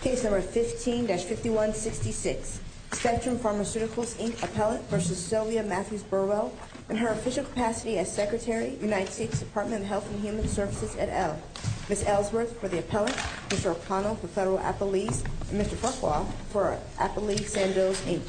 Case No. 15-5166, Spectrum Pharmaceuticals, Inc. appellate v. Sylvia Matthews Burwell in her official capacity as Secretary, United States Department of Health and Human Services, et al. Ms. Ellsworth for the appellate, Mr. O'Connell for Federal Appellees, and Mr. Farquaad for Appellees-Sandoz, Inc.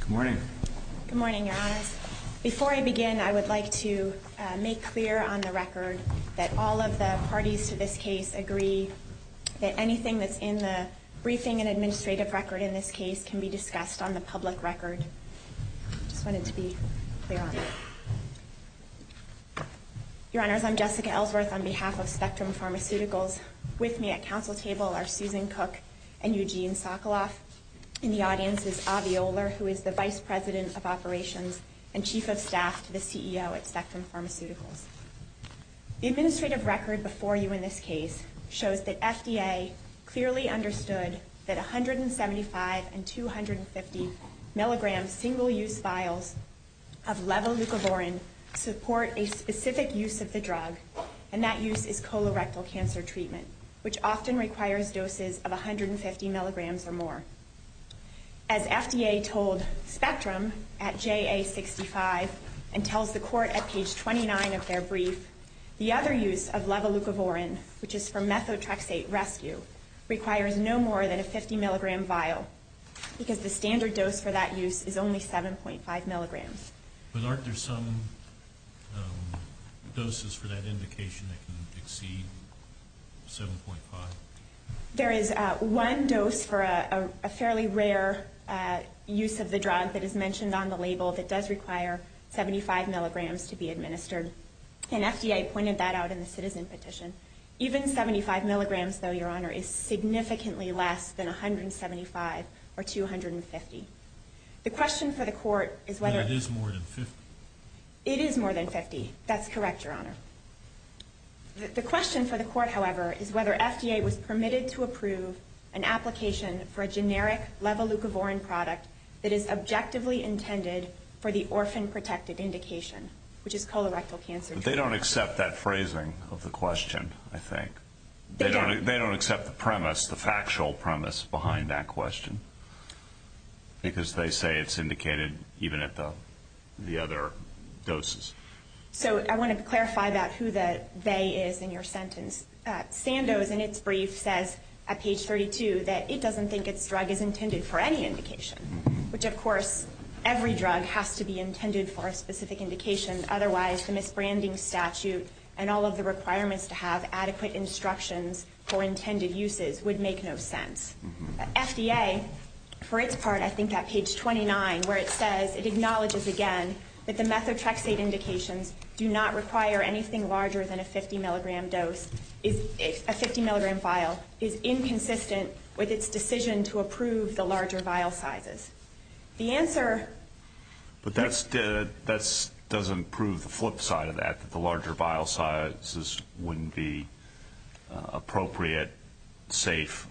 Good morning. Good morning, Your Honors. Before I begin, I would like to make clear on the record that all of the parties to this case agree that anything that's in the briefing and administrative record in this case can be discussed on the public record. I just wanted to be clear on that. Your Honors, I'm Jessica Ellsworth on behalf of Spectrum Pharmaceuticals. With me at council table are Susan Cook and Eugene Sokoloff. In the audience is Avi Oler, who is the Vice President of Operations and Chief of Staff to the CEO at Spectrum Pharmaceuticals. The administrative record before you in this case shows that FDA clearly understood that 175 and 250 milligram single-use vials of levolucoborin support a specific use of the drug, and that use is colorectal cancer treatment, which often requires doses of 150 milligrams or more. As FDA told Spectrum at JA65 and tells the court at page 29 of their brief, the other use of levolucoborin, which is for methotrexate rescue, requires no more than a 50 milligram vial, because the standard dose for that use is only 7.5 milligrams. But aren't there some doses for that indication that can exceed 7.5? There is one dose for a fairly rare use of the drug that is mentioned on the label that does require 75 milligrams to be administered, and FDA pointed that out in the citizen petition. Even 75 milligrams, though, Your Honor, is significantly less than 175 or 250. The question for the court is whether... But it is more than 50. It is more than 50. That's correct, Your Honor. The question for the court, however, is whether FDA was permitted to approve an application for a generic levolucoborin product that is objectively intended for the orphan-protected indication, which is colorectal cancer treatment. But they don't accept that phrasing of the question, I think. They don't. They don't accept the premise, the factual premise behind that question, because they say it's indicated even at the other doses. So I want to clarify about who the they is in your sentence. Sandoz, in its brief, says at page 32 that it doesn't think its drug is intended for any indication, which, of course, every drug has to be intended for a specific indication. Otherwise, the misbranding statute and all of the requirements to have adequate instructions for intended uses would make no sense. FDA, for its part, I think, at page 29, where it says it acknowledges again that the methotrexate indications do not require anything larger than a 50-milligram dose, a 50-milligram vial, is inconsistent with its decision to approve the larger vial sizes. The answer... But that doesn't prove the flip side of that, that the larger vial sizes wouldn't be appropriate, safe,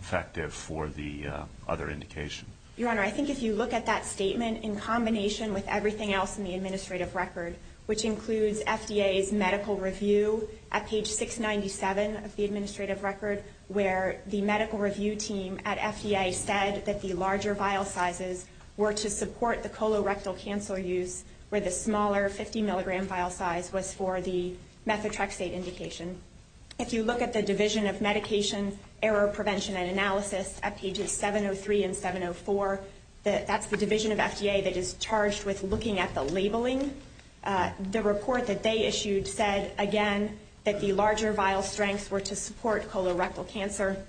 effective for the other indication. Your Honor, I think if you look at that statement in combination with everything else in the administrative record, which includes FDA's medical review at page 697 of the administrative record, where the medical review team at FDA said that the larger vial sizes were to support the colorectal cancer use, where the smaller 50-milligram vial size was for the methotrexate indication. If you look at the Division of Medication, Error Prevention, and Analysis at pages 703 and 704, that's the division of FDA that is charged with looking at the labeling. The report that they issued said, again, that the larger vial strengths were to support colorectal cancer,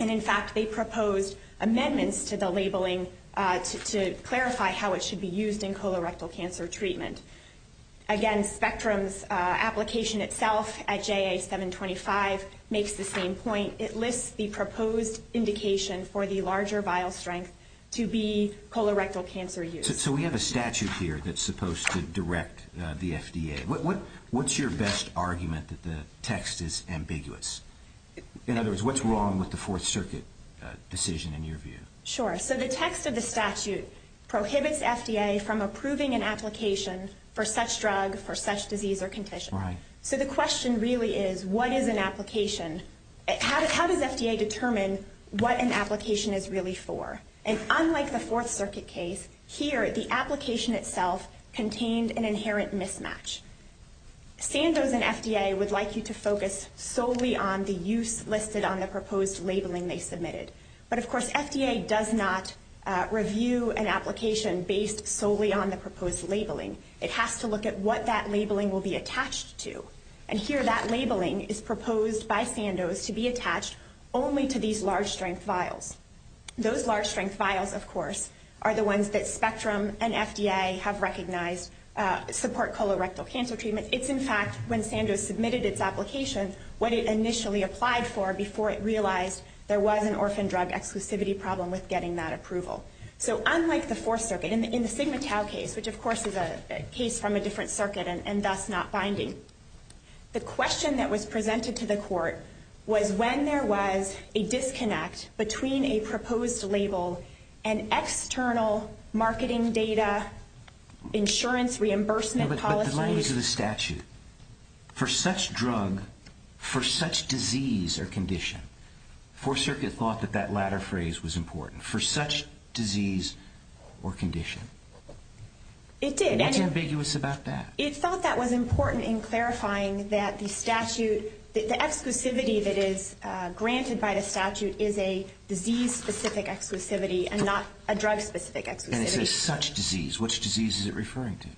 and in fact they proposed amendments to the labeling to clarify how it should be used in colorectal cancer treatment. Again, Spectrum's application itself at JA-725 makes the same point. It lists the proposed indication for the larger vial strength to be colorectal cancer use. So we have a statute here that's supposed to direct the FDA. What's your best argument that the text is ambiguous? In other words, what's wrong with the Fourth Circuit decision in your view? Sure. So the text of the statute prohibits FDA from approving an application for such drug, for such disease or condition. So the question really is, what is an application? How does FDA determine what an application is really for? And unlike the Fourth Circuit case, here the application itself contained an inherent mismatch. Sandoz and FDA would like you to focus solely on the use listed on the proposed labeling they submitted. But, of course, FDA does not review an application based solely on the proposed labeling. It has to look at what that labeling will be attached to. And here that labeling is proposed by Sandoz to be attached only to these large strength vials. Those large strength vials, of course, are the ones that Spectrum and FDA have recognized support colorectal cancer treatment. It's, in fact, when Sandoz submitted its application, what it initially applied for before it realized there was an orphan drug exclusivity problem with getting that approval. So unlike the Fourth Circuit, in the Sigma Tau case, which of course is a case from a different circuit and thus not binding, the question that was presented to the court was when there was a disconnect between a proposed label and external marketing data, insurance reimbursement policy. But the language of the statute, for such drug, for such disease or condition, the Fourth Circuit thought that that latter phrase was important, for such disease or condition. It did. What's ambiguous about that? It thought that was important in clarifying that the exclusivity that is granted by the statute is a disease-specific exclusivity and not a drug-specific exclusivity. And it says such disease. Which disease is it referring to?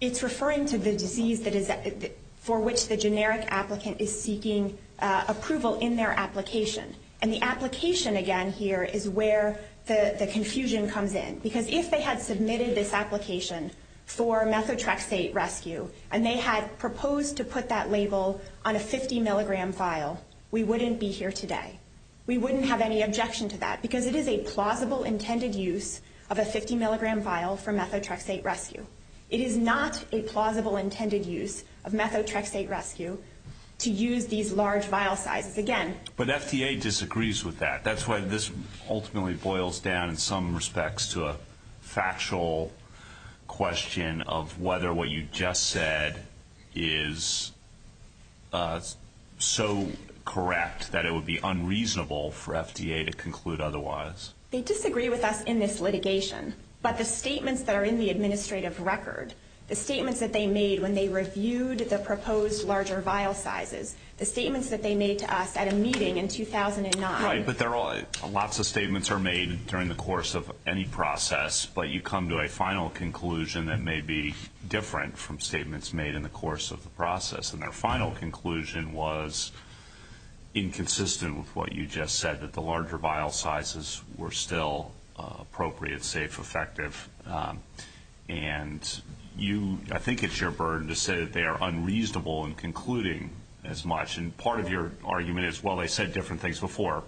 It's referring to the disease for which the generic applicant is seeking approval in their application. And the application, again, here is where the confusion comes in. Because if they had submitted this application for methotrexate rescue and they had proposed to put that label on a 50-milligram vial, we wouldn't be here today. We wouldn't have any objection to that because it is a plausible intended use of a 50-milligram vial for methotrexate rescue. It is not a plausible intended use of methotrexate rescue to use these large vial sizes. But FDA disagrees with that. That's why this ultimately boils down in some respects to a factual question of whether what you just said is so correct that it would be unreasonable for FDA to conclude otherwise. They disagree with us in this litigation. But the statements that are in the administrative record, the statements that they made when they reviewed the proposed larger vial sizes, the statements that they made to us at a meeting in 2009. Right. But lots of statements are made during the course of any process. But you come to a final conclusion that may be different from statements made in the course of the process. And their final conclusion was inconsistent with what you just said, that the larger vial sizes were still appropriate, safe, effective. And I think it's your burden to say that they are unreasonable in concluding as much. And part of your argument is, well, they said different things before.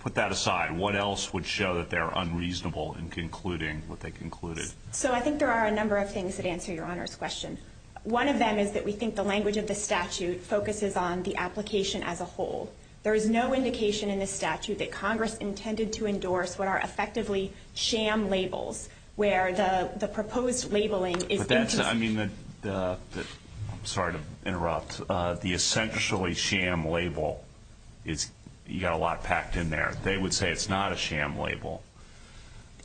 Put that aside. What else would show that they're unreasonable in concluding what they concluded? So I think there are a number of things that answer Your Honor's question. One of them is that we think the language of the statute focuses on the application as a whole. There is no indication in this statute that Congress intended to endorse what are effectively sham labels, where the proposed labeling is inconsistent. I'm sorry to interrupt. The essentially sham label, you've got a lot packed in there. They would say it's not a sham label.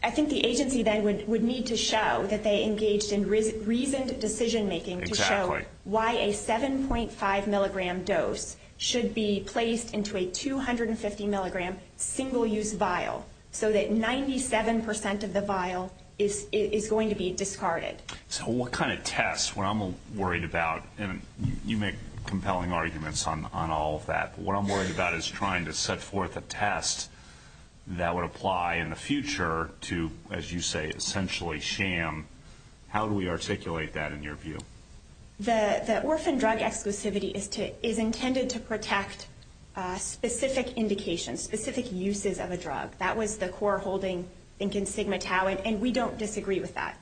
I think the agency then would need to show that they engaged in reasoned decision making to show why a 7.5 milligram dose should be placed into a 250 milligram single-use vial so that 97% of the vial is going to be discarded. So what kind of test? What I'm worried about, and you make compelling arguments on all of that, but what I'm worried about is trying to set forth a test that would apply in the future to, as you say, essentially sham. How do we articulate that in your view? The orphan drug exclusivity is intended to protect specific indications, specific uses of a drug. That was the core holding in Sigma Tau, and we don't disagree with that.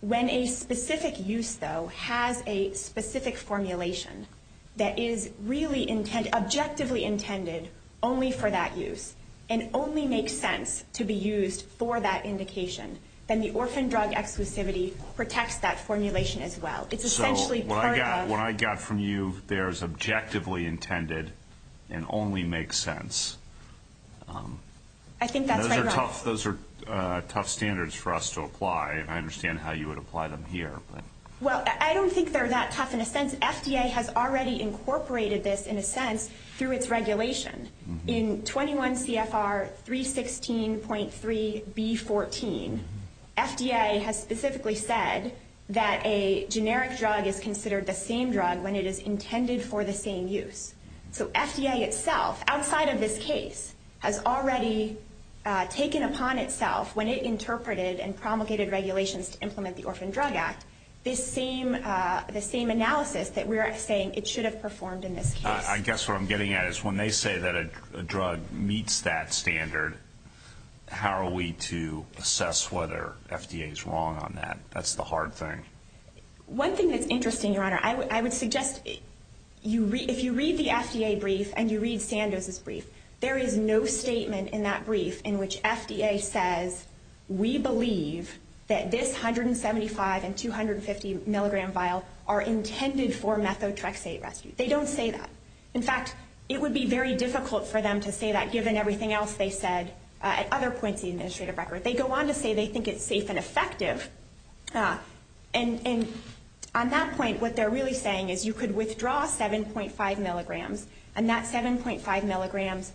When a specific use, though, has a specific formulation that is really objectively intended only for that use and only makes sense to be used for that indication, then the orphan drug exclusivity protects that formulation as well. So what I got from you there is objectively intended and only makes sense. I think that's right. Those are tough standards for us to apply. I understand how you would apply them here. Well, I don't think they're that tough in a sense. FDA has specifically said that a generic drug is considered the same drug when it is intended for the same use. So FDA itself, outside of this case, has already taken upon itself, when it interpreted and promulgated regulations to implement the Orphan Drug Act, the same analysis that we're saying it should have performed in this case. I guess what I'm getting at is when they say that a drug meets that standard, how are we to assess whether FDA is wrong on that? That's the hard thing. One thing that's interesting, Your Honor, I would suggest if you read the FDA brief and you read Sandoz's brief, there is no statement in that brief in which FDA says, we believe that this 175 and 250 milligram vial are intended for methotrexate rescue. They don't say that. In fact, it would be very difficult for them to say that given everything else they said at other points in the administrative record. They go on to say they think it's safe and effective. And on that point, what they're really saying is you could withdraw 7.5 milligrams, and that 7.5 milligrams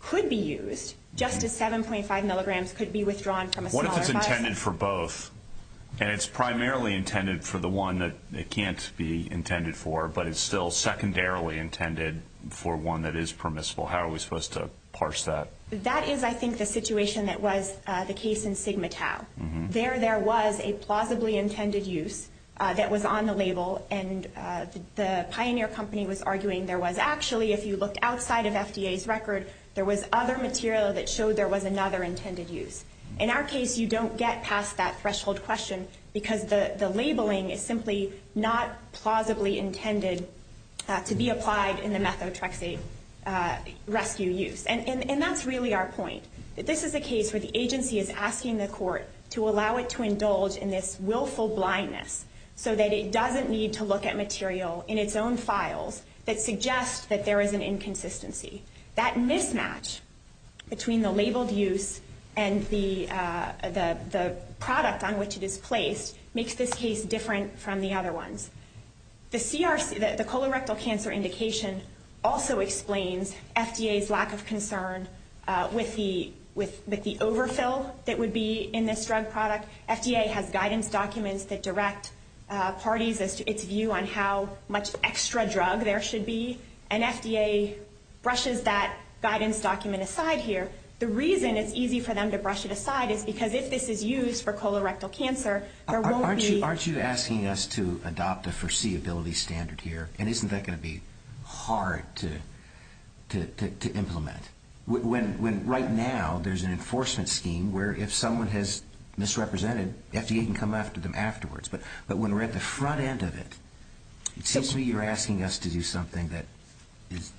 could be used just as 7.5 milligrams could be withdrawn from a smaller vial. What if it's intended for both and it's primarily intended for the one that it can't be intended for but it's still secondarily intended for one that is permissible? How are we supposed to parse that? That is, I think, the situation that was the case in Sigma Tau. There there was a plausibly intended use that was on the label, and the Pioneer Company was arguing there was actually, if you looked outside of FDA's record, there was other material that showed there was another intended use. In our case, you don't get past that threshold question because the labeling is simply not plausibly intended to be applied in the methotrexate rescue use. And that's really our point. This is a case where the agency is asking the court to allow it to indulge in this willful blindness so that it doesn't need to look at material in its own files that suggest that there is an inconsistency. That mismatch between the labeled use and the product on which it is placed makes this case different from the other ones. The colorectal cancer indication also explains FDA's lack of concern with the overfill that would be in this drug product. FDA has guidance documents that direct parties as to its view on how much extra drug there should be, and FDA brushes that guidance document aside here. The reason it's easy for them to brush it aside is because if this is used for colorectal cancer, there won't be... Aren't you asking us to adopt a foreseeability standard here? And isn't that going to be hard to implement? When right now there's an enforcement scheme where if someone has misrepresented, FDA can come after them afterwards. But when we're at the front end of it, it seems to me you're asking us to do something that is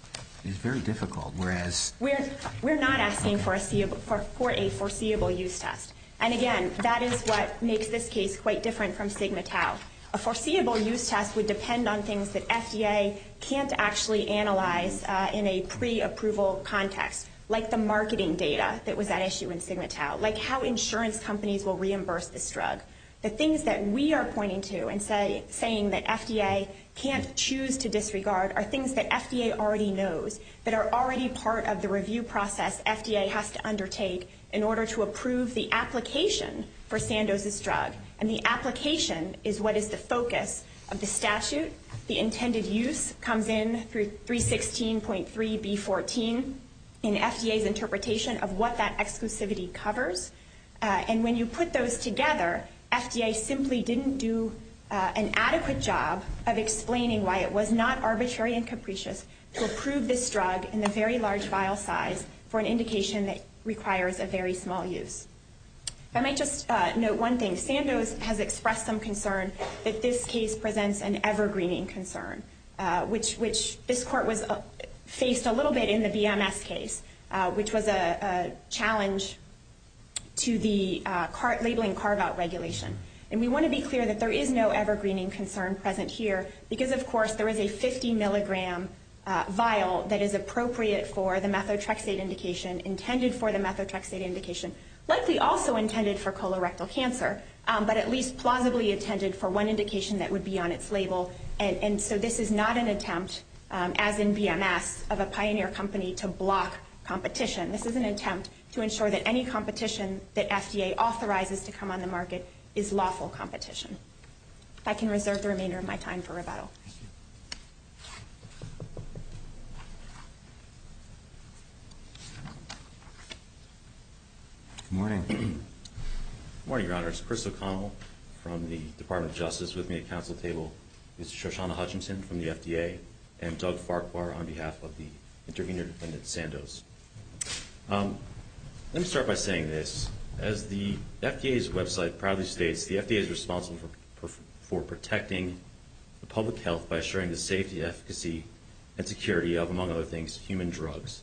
very difficult, whereas... We're not asking for a foreseeable use test. And again, that is what makes this case quite different from Sigma Tau. A foreseeable use test would depend on things that FDA can't actually analyze in a pre-approval context, like the marketing data that was at issue in Sigma Tau, like how insurance companies will reimburse this drug. The things that we are pointing to and saying that FDA can't choose to disregard are things that FDA already knows, that are already part of the review process FDA has to undertake in order to approve the application for Sandoz's drug. And the application is what is the focus of the statute. The intended use comes in through 316.3b14 in FDA's interpretation of what that exclusivity covers. And when you put those together, FDA simply didn't do an adequate job of explaining why it was not arbitrary and capricious to approve this drug in the very large vial size for an indication that requires a very small use. I might just note one thing. Sandoz has expressed some concern that this case presents an evergreening concern, which this court faced a little bit in the BMS case, which was a challenge to the labeling carve-out regulation. And we want to be clear that there is no evergreening concern present here, because of course there is a 50-milligram vial that is appropriate for the methotrexate indication, intended for the methotrexate indication, likely also intended for colorectal cancer, but at least plausibly intended for one indication that would be on its label. And so this is not an attempt, as in BMS, of a pioneer company to block competition. This is an attempt to ensure that any competition that FDA authorizes to come on the market is lawful competition. If I can reserve the remainder of my time for rebuttal. Good morning. Good morning, Your Honors. Chris O'Connell from the Department of Justice with me at council table, Mr. Shoshana Hutchinson from the FDA, and Doug Farquhar on behalf of the intervenor defendant, Sandoz. Let me start by saying this. As the FDA's website proudly states, the FDA is responsible for protecting public health by assuring the safety, efficacy, and security of, among other things, human drugs.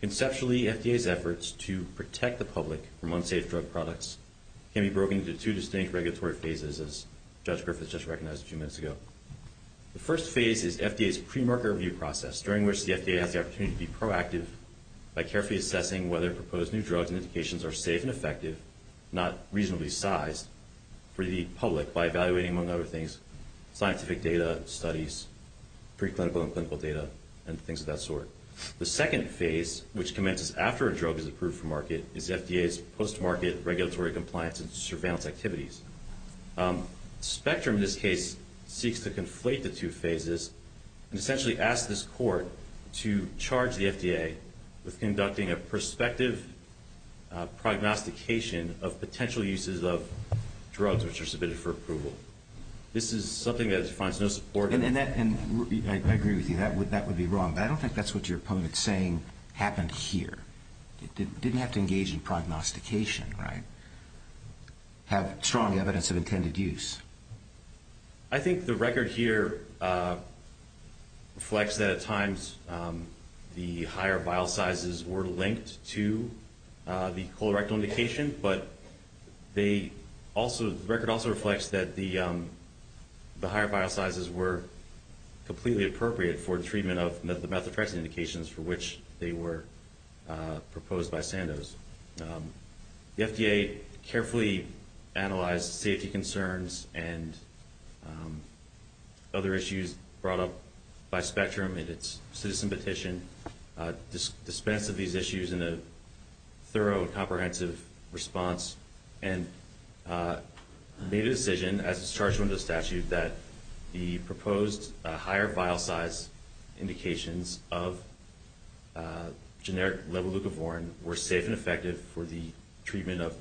Conceptually, FDA's efforts to protect the public from unsafe drug products can be broken into two distinct regulatory phases, as Judge Griffiths just recognized a few minutes ago. The first phase is FDA's pre-marker review process, during which the FDA has the opportunity to be proactive by carefully assessing whether proposed new drugs and indications are safe and effective, not reasonably sized, for the public by evaluating, among other things, scientific data, studies, preclinical and clinical data, and things of that sort. The second phase, which commences after a drug is approved for market, is FDA's post-market regulatory compliance and surveillance activities. Spectrum, in this case, seeks to conflate the two phases and essentially asks this court to charge the FDA with conducting a prospective prognostication of potential uses of drugs which are submitted for approval. This is something that finds no support. And I agree with you. That would be wrong. But I don't think that's what your opponent's saying happened here. It didn't have to engage in prognostication, right? Have strong evidence of intended use. I think the record here reflects that at times the higher bile sizes were linked to the colorectal indication, but the record also reflects that the higher bile sizes were completely appropriate for treatment of the methotrexate indications for which they were proposed by Sandoz. The FDA carefully analyzed safety concerns and other issues brought up by Spectrum in its citizen petition, dispensed of these issues in a thorough, comprehensive response, and made a decision as it's charged under the statute that the proposed higher bile size indications of generic levolucavorin were safe and effective for the treatment of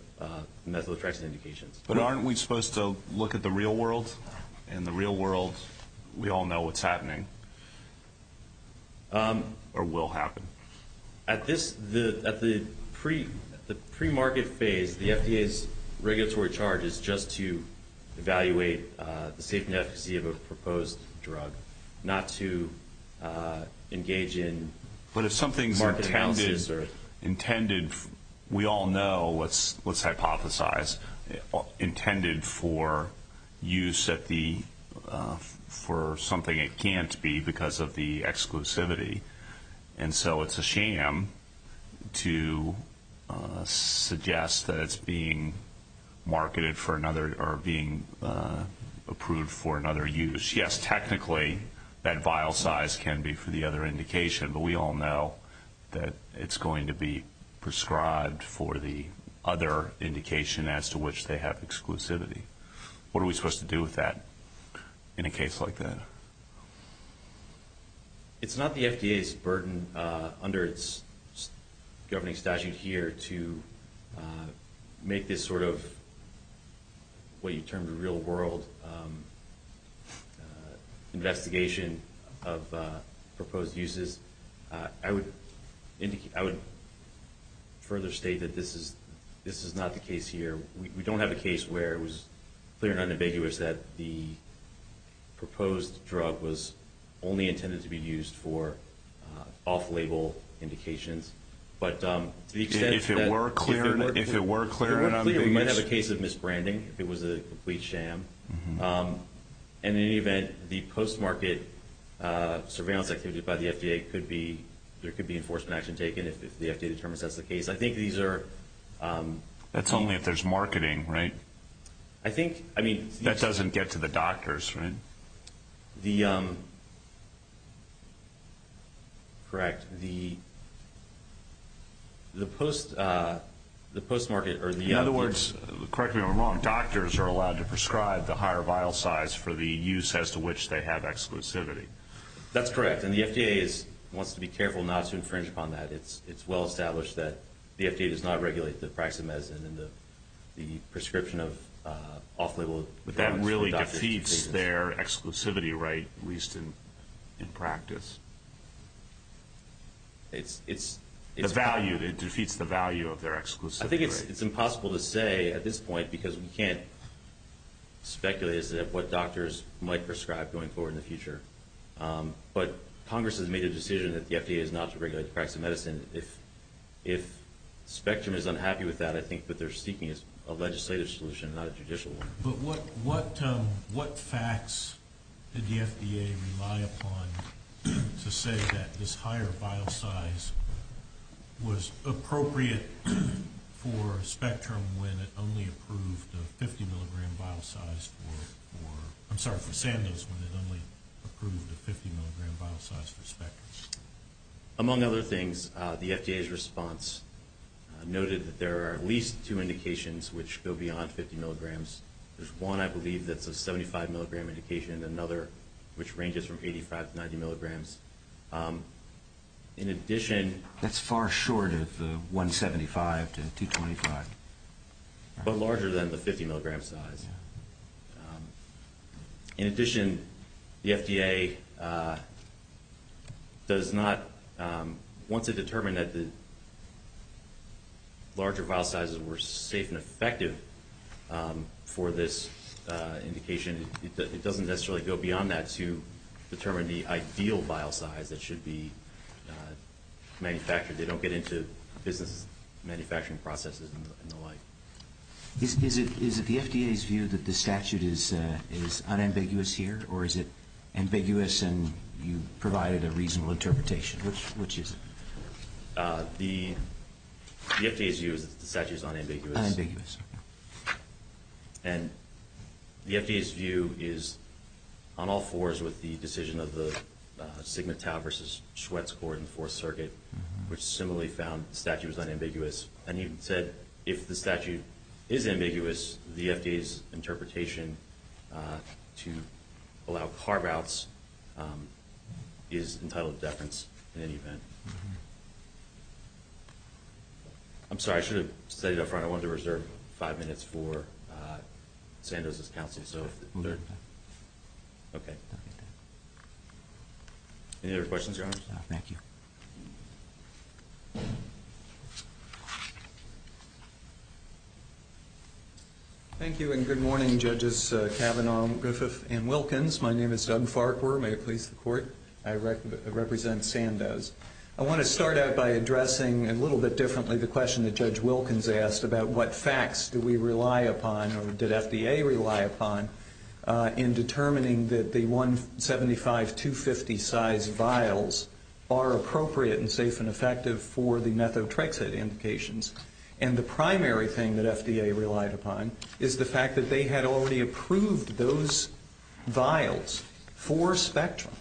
methotrexate indications. But aren't we supposed to look at the real world? In the real world, we all know what's happening or will happen. At the premarket phase, the FDA's regulatory charge is just to evaluate the safety and efficacy of a proposed drug, not to engage in market analysis. We all know, let's hypothesize, intended for use for something it can't be because of the exclusivity. And so it's a sham to suggest that it's being marketed for another or being approved for another use. Yes, technically that bile size can be for the other indication, but we all know that it's going to be prescribed for the other indication as to which they have exclusivity. What are we supposed to do with that in a case like that? It's not the FDA's burden under its governing statute here to make this sort of, what you term the real world investigation of proposed uses. I would further state that this is not the case here. We don't have a case where it was clear and unambiguous that the proposed drug was only intended to be used for off-label indications. If it were clear and unambiguous? We might have a case of misbranding if it was a complete sham. And in any event, the post-market surveillance activity by the FDA could be, there could be enforcement action taken if the FDA determines that's the case. I think these are- That's only if there's marketing, right? I think, I mean- That doesn't get to the doctors, right? The, correct, the post-market or the- In other words, correct me if I'm wrong, doctors are allowed to prescribe the higher vial size for the use as to which they have exclusivity. That's correct. And the FDA wants to be careful not to infringe upon that. It's well established that the FDA does not regulate the practice of medicine and the prescription of off-label drugs- But that really defeats their exclusivity right, at least in practice. It's- The value, it defeats the value of their exclusivity right. I think it's impossible to say at this point, because we can't speculate as to what doctors might prescribe going forward in the future. But Congress has made a decision that the FDA is not to regulate the practice of medicine. And if Spectrum is unhappy with that, I think that they're seeking a legislative solution, not a judicial one. But what facts did the FDA rely upon to say that this higher vial size was appropriate for Spectrum when it only approved a 50 milligram vial size for- I'm sorry, for Sandoz when it only approved a 50 milligram vial size for Spectrum? Among other things, the FDA's response noted that there are at least two indications which go beyond 50 milligrams. There's one I believe that's a 75 milligram indication and another which ranges from 85 to 90 milligrams. In addition- That's far short of the 175 to 225. But larger than the 50 milligram size. In addition, the FDA does not- Once it determined that the larger vial sizes were safe and effective for this indication, it doesn't necessarily go beyond that to determine the ideal vial size that should be manufactured. They don't get into business manufacturing processes and the like. Is it the FDA's view that the statute is unambiguous here, or is it ambiguous and you provided a reasonable interpretation? Which is it? The FDA's view is that the statute is unambiguous. Unambiguous. And the FDA's view is on all fours with the decision of the Sigma Tau versus Schwartz Court in the Fourth Circuit, which similarly found the statute was unambiguous. And you said if the statute is ambiguous, the FDA's interpretation to allow carve-outs is entitled to deference in any event. I'm sorry. I should have said it up front. I wanted to reserve five minutes for Sandoz's counseling. Any other questions, Your Honor? Thank you. Thank you, and good morning, Judges Kavanaugh, Griffith, and Wilkins. My name is Doug Farquhar. May it please the Court, I represent Sandoz. I want to start out by addressing a little bit differently the question that Judge Wilkins asked about what facts do we rely upon or did FDA rely upon in determining that the 175-250 size vials are appropriate and safe and effective for the methotrexate indications. And the primary thing that FDA relied upon is the fact that they had already approved those vials for spectrum,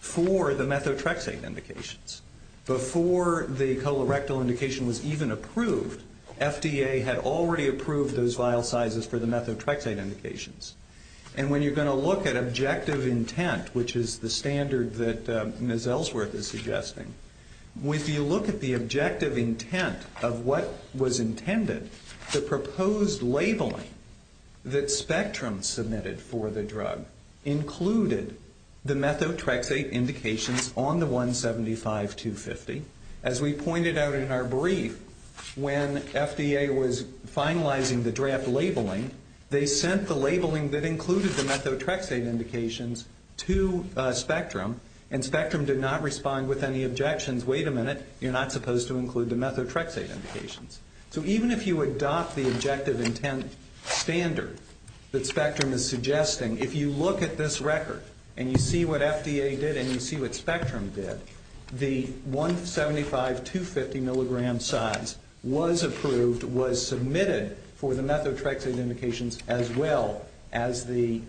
for the methotrexate indications. Before the colorectal indication was even approved, FDA had already approved those vial sizes for the methotrexate indications. And when you're going to look at objective intent, which is the standard that Ms. Ellsworth is suggesting, if you look at the objective intent of what was intended, the proposed labeling that spectrum submitted for the drug included the methotrexate indications on the 175-250. As we pointed out in our brief, when FDA was finalizing the draft labeling, they sent the labeling that included the methotrexate indications to spectrum, and spectrum did not respond with any objections. Wait a minute, you're not supposed to include the methotrexate indications. So even if you adopt the objective intent standard that spectrum is suggesting, if you look at this record and you see what FDA did and you see what spectrum did, the 175-250 milligram size was approved, was submitted, for the methotrexate indications as well as the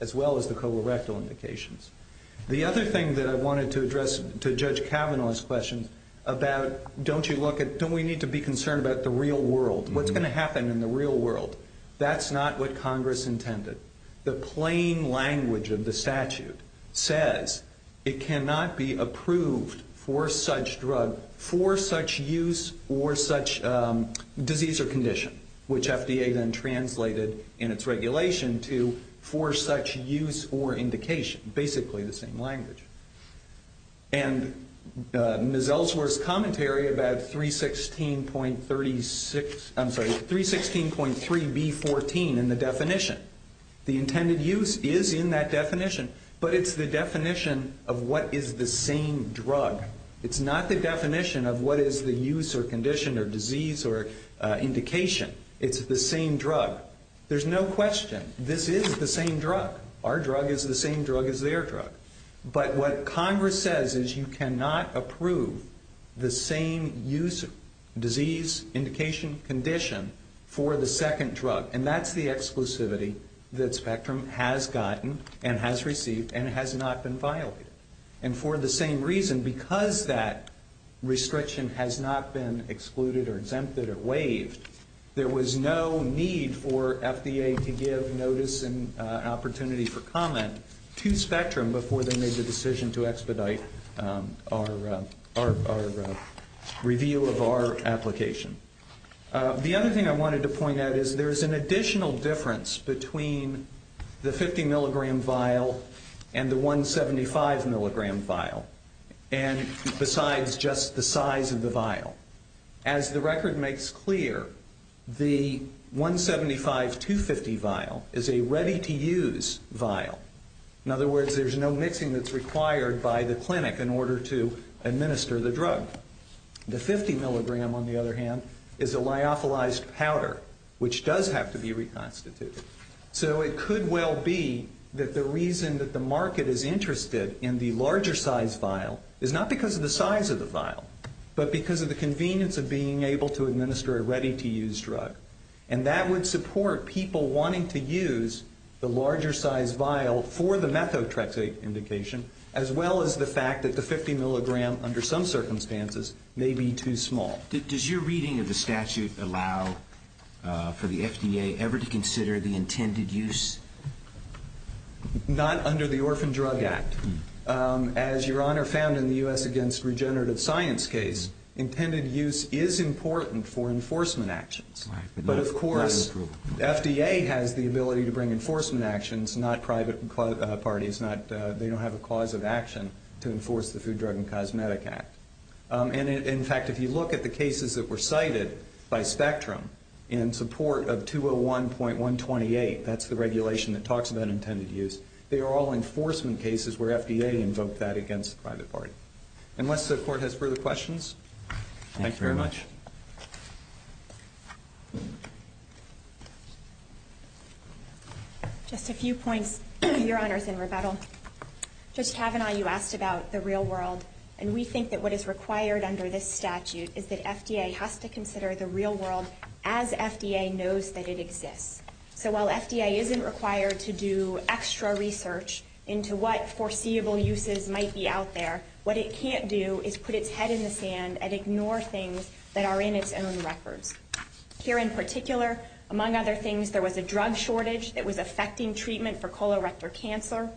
colorectal indications. The other thing that I wanted to address to Judge Kavanaugh's question about don't we need to be concerned about the real world, what's going to happen in the real world, that's not what Congress intended. The plain language of the statute says it cannot be approved for such drug, for such use, or such disease or condition, which FDA then translated in its regulation to for such use or indication, basically the same language. And Ms. Ellsworth's commentary about 316.36, I'm sorry, 316.3B14 in the definition, the intended use is in that definition, but it's the definition of what is the same drug. It's not the definition of what is the use or condition or disease or indication. It's the same drug. There's no question. This is the same drug. Our drug is the same drug as their drug. But what Congress says is you cannot approve the same use, disease, indication, condition for the second drug. And that's the exclusivity that Spectrum has gotten and has received and has not been violated. And for the same reason, because that restriction has not been excluded or exempted or waived, there was no need for FDA to give notice and opportunity for comment to Spectrum before they made the decision to expedite our review of our application. The other thing I wanted to point out is there is an additional difference between the 50-milligram vial and the 175-milligram vial, and besides just the size of the vial. As the record makes clear, the 175-250 vial is a ready-to-use vial. In other words, there's no mixing that's required by the clinic in order to administer the drug. The 50-milligram, on the other hand, is a lyophilized powder, which does have to be reconstituted. So it could well be that the reason that the market is interested in the larger size vial is not because of the size of the vial, but because of the convenience of being able to administer a ready-to-use drug. And that would support people wanting to use the larger size vial for the methotrexate indication, as well as the fact that the 50-milligram, under some circumstances, may be too small. Does your reading of the statute allow for the FDA ever to consider the intended use? Not under the Orphan Drug Act. As Your Honor found in the U.S. Against Regenerative Science case, intended use is important for enforcement actions. But, of course, FDA has the ability to bring enforcement actions, not private parties. They don't have a cause of action to enforce the Food, Drug, and Cosmetic Act. And, in fact, if you look at the cases that were cited by Spectrum in support of 201.128, that's the regulation that talks about intended use. They are all enforcement cases where FDA invoked that against the private party. Unless the Court has further questions? Thank you very much. Just a few points, Your Honors, in rebuttal. Judge Kavanaugh, you asked about the real world, and we think that what is required under this statute is that FDA has to consider the real world as FDA knows that it exists. So while FDA isn't required to do extra research into what foreseeable uses might be out there, what it can't do is put its head in the sand and ignore things that are in its own records. Here in particular, among other things, there was a drug shortage that was affecting treatment for colorectal cancer,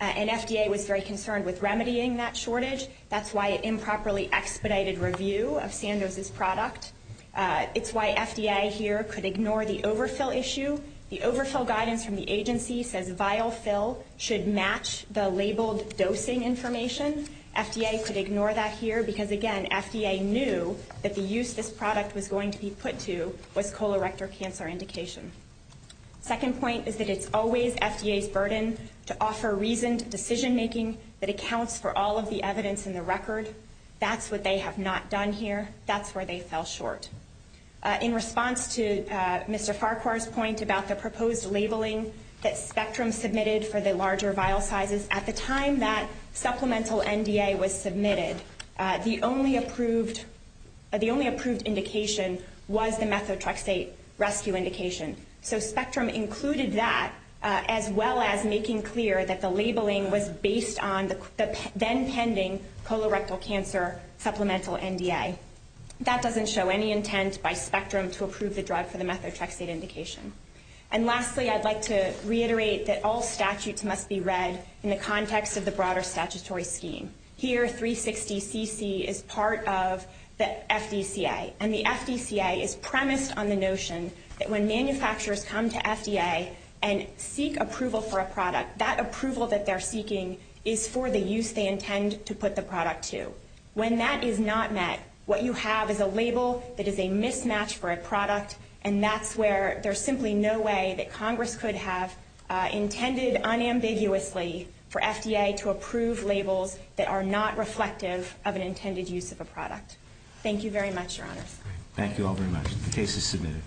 and FDA was very concerned with remedying that shortage. That's why it improperly expedited review of Sandoz's product. It's why FDA here could ignore the overfill issue. The overfill guidance from the agency says vial fill should match the labeled dosing information. FDA could ignore that here because, again, FDA knew that the use this product was going to be put to was colorectal cancer indication. Second point is that it's always FDA's burden to offer reasoned decision-making that accounts for all of the evidence in the record. That's what they have not done here. That's where they fell short. In response to Mr. Farquhar's point about the proposed labeling that Spectrum submitted for the larger vial sizes, at the time that supplemental NDA was submitted, the only approved indication was the methotrexate rescue indication. So Spectrum included that as well as making clear that the labeling was based on the then-pending colorectal cancer supplemental NDA. That doesn't show any intent by Spectrum to approve the drug for the methotrexate indication. And lastly, I'd like to reiterate that all statutes must be read in the context of the broader statutory scheme. Here, 360cc is part of the FDCA, and the FDCA is premised on the notion that when manufacturers come to FDA and seek approval for a product, that approval that they're seeking is for the use they intend to put the product to. When that is not met, what you have is a label that is a mismatch for a product, and that's where there's simply no way that Congress could have intended unambiguously for FDA to approve labels that are not reflective of an intended use of a product. Thank you very much, Your Honors. Thank you all very much. The case is submitted.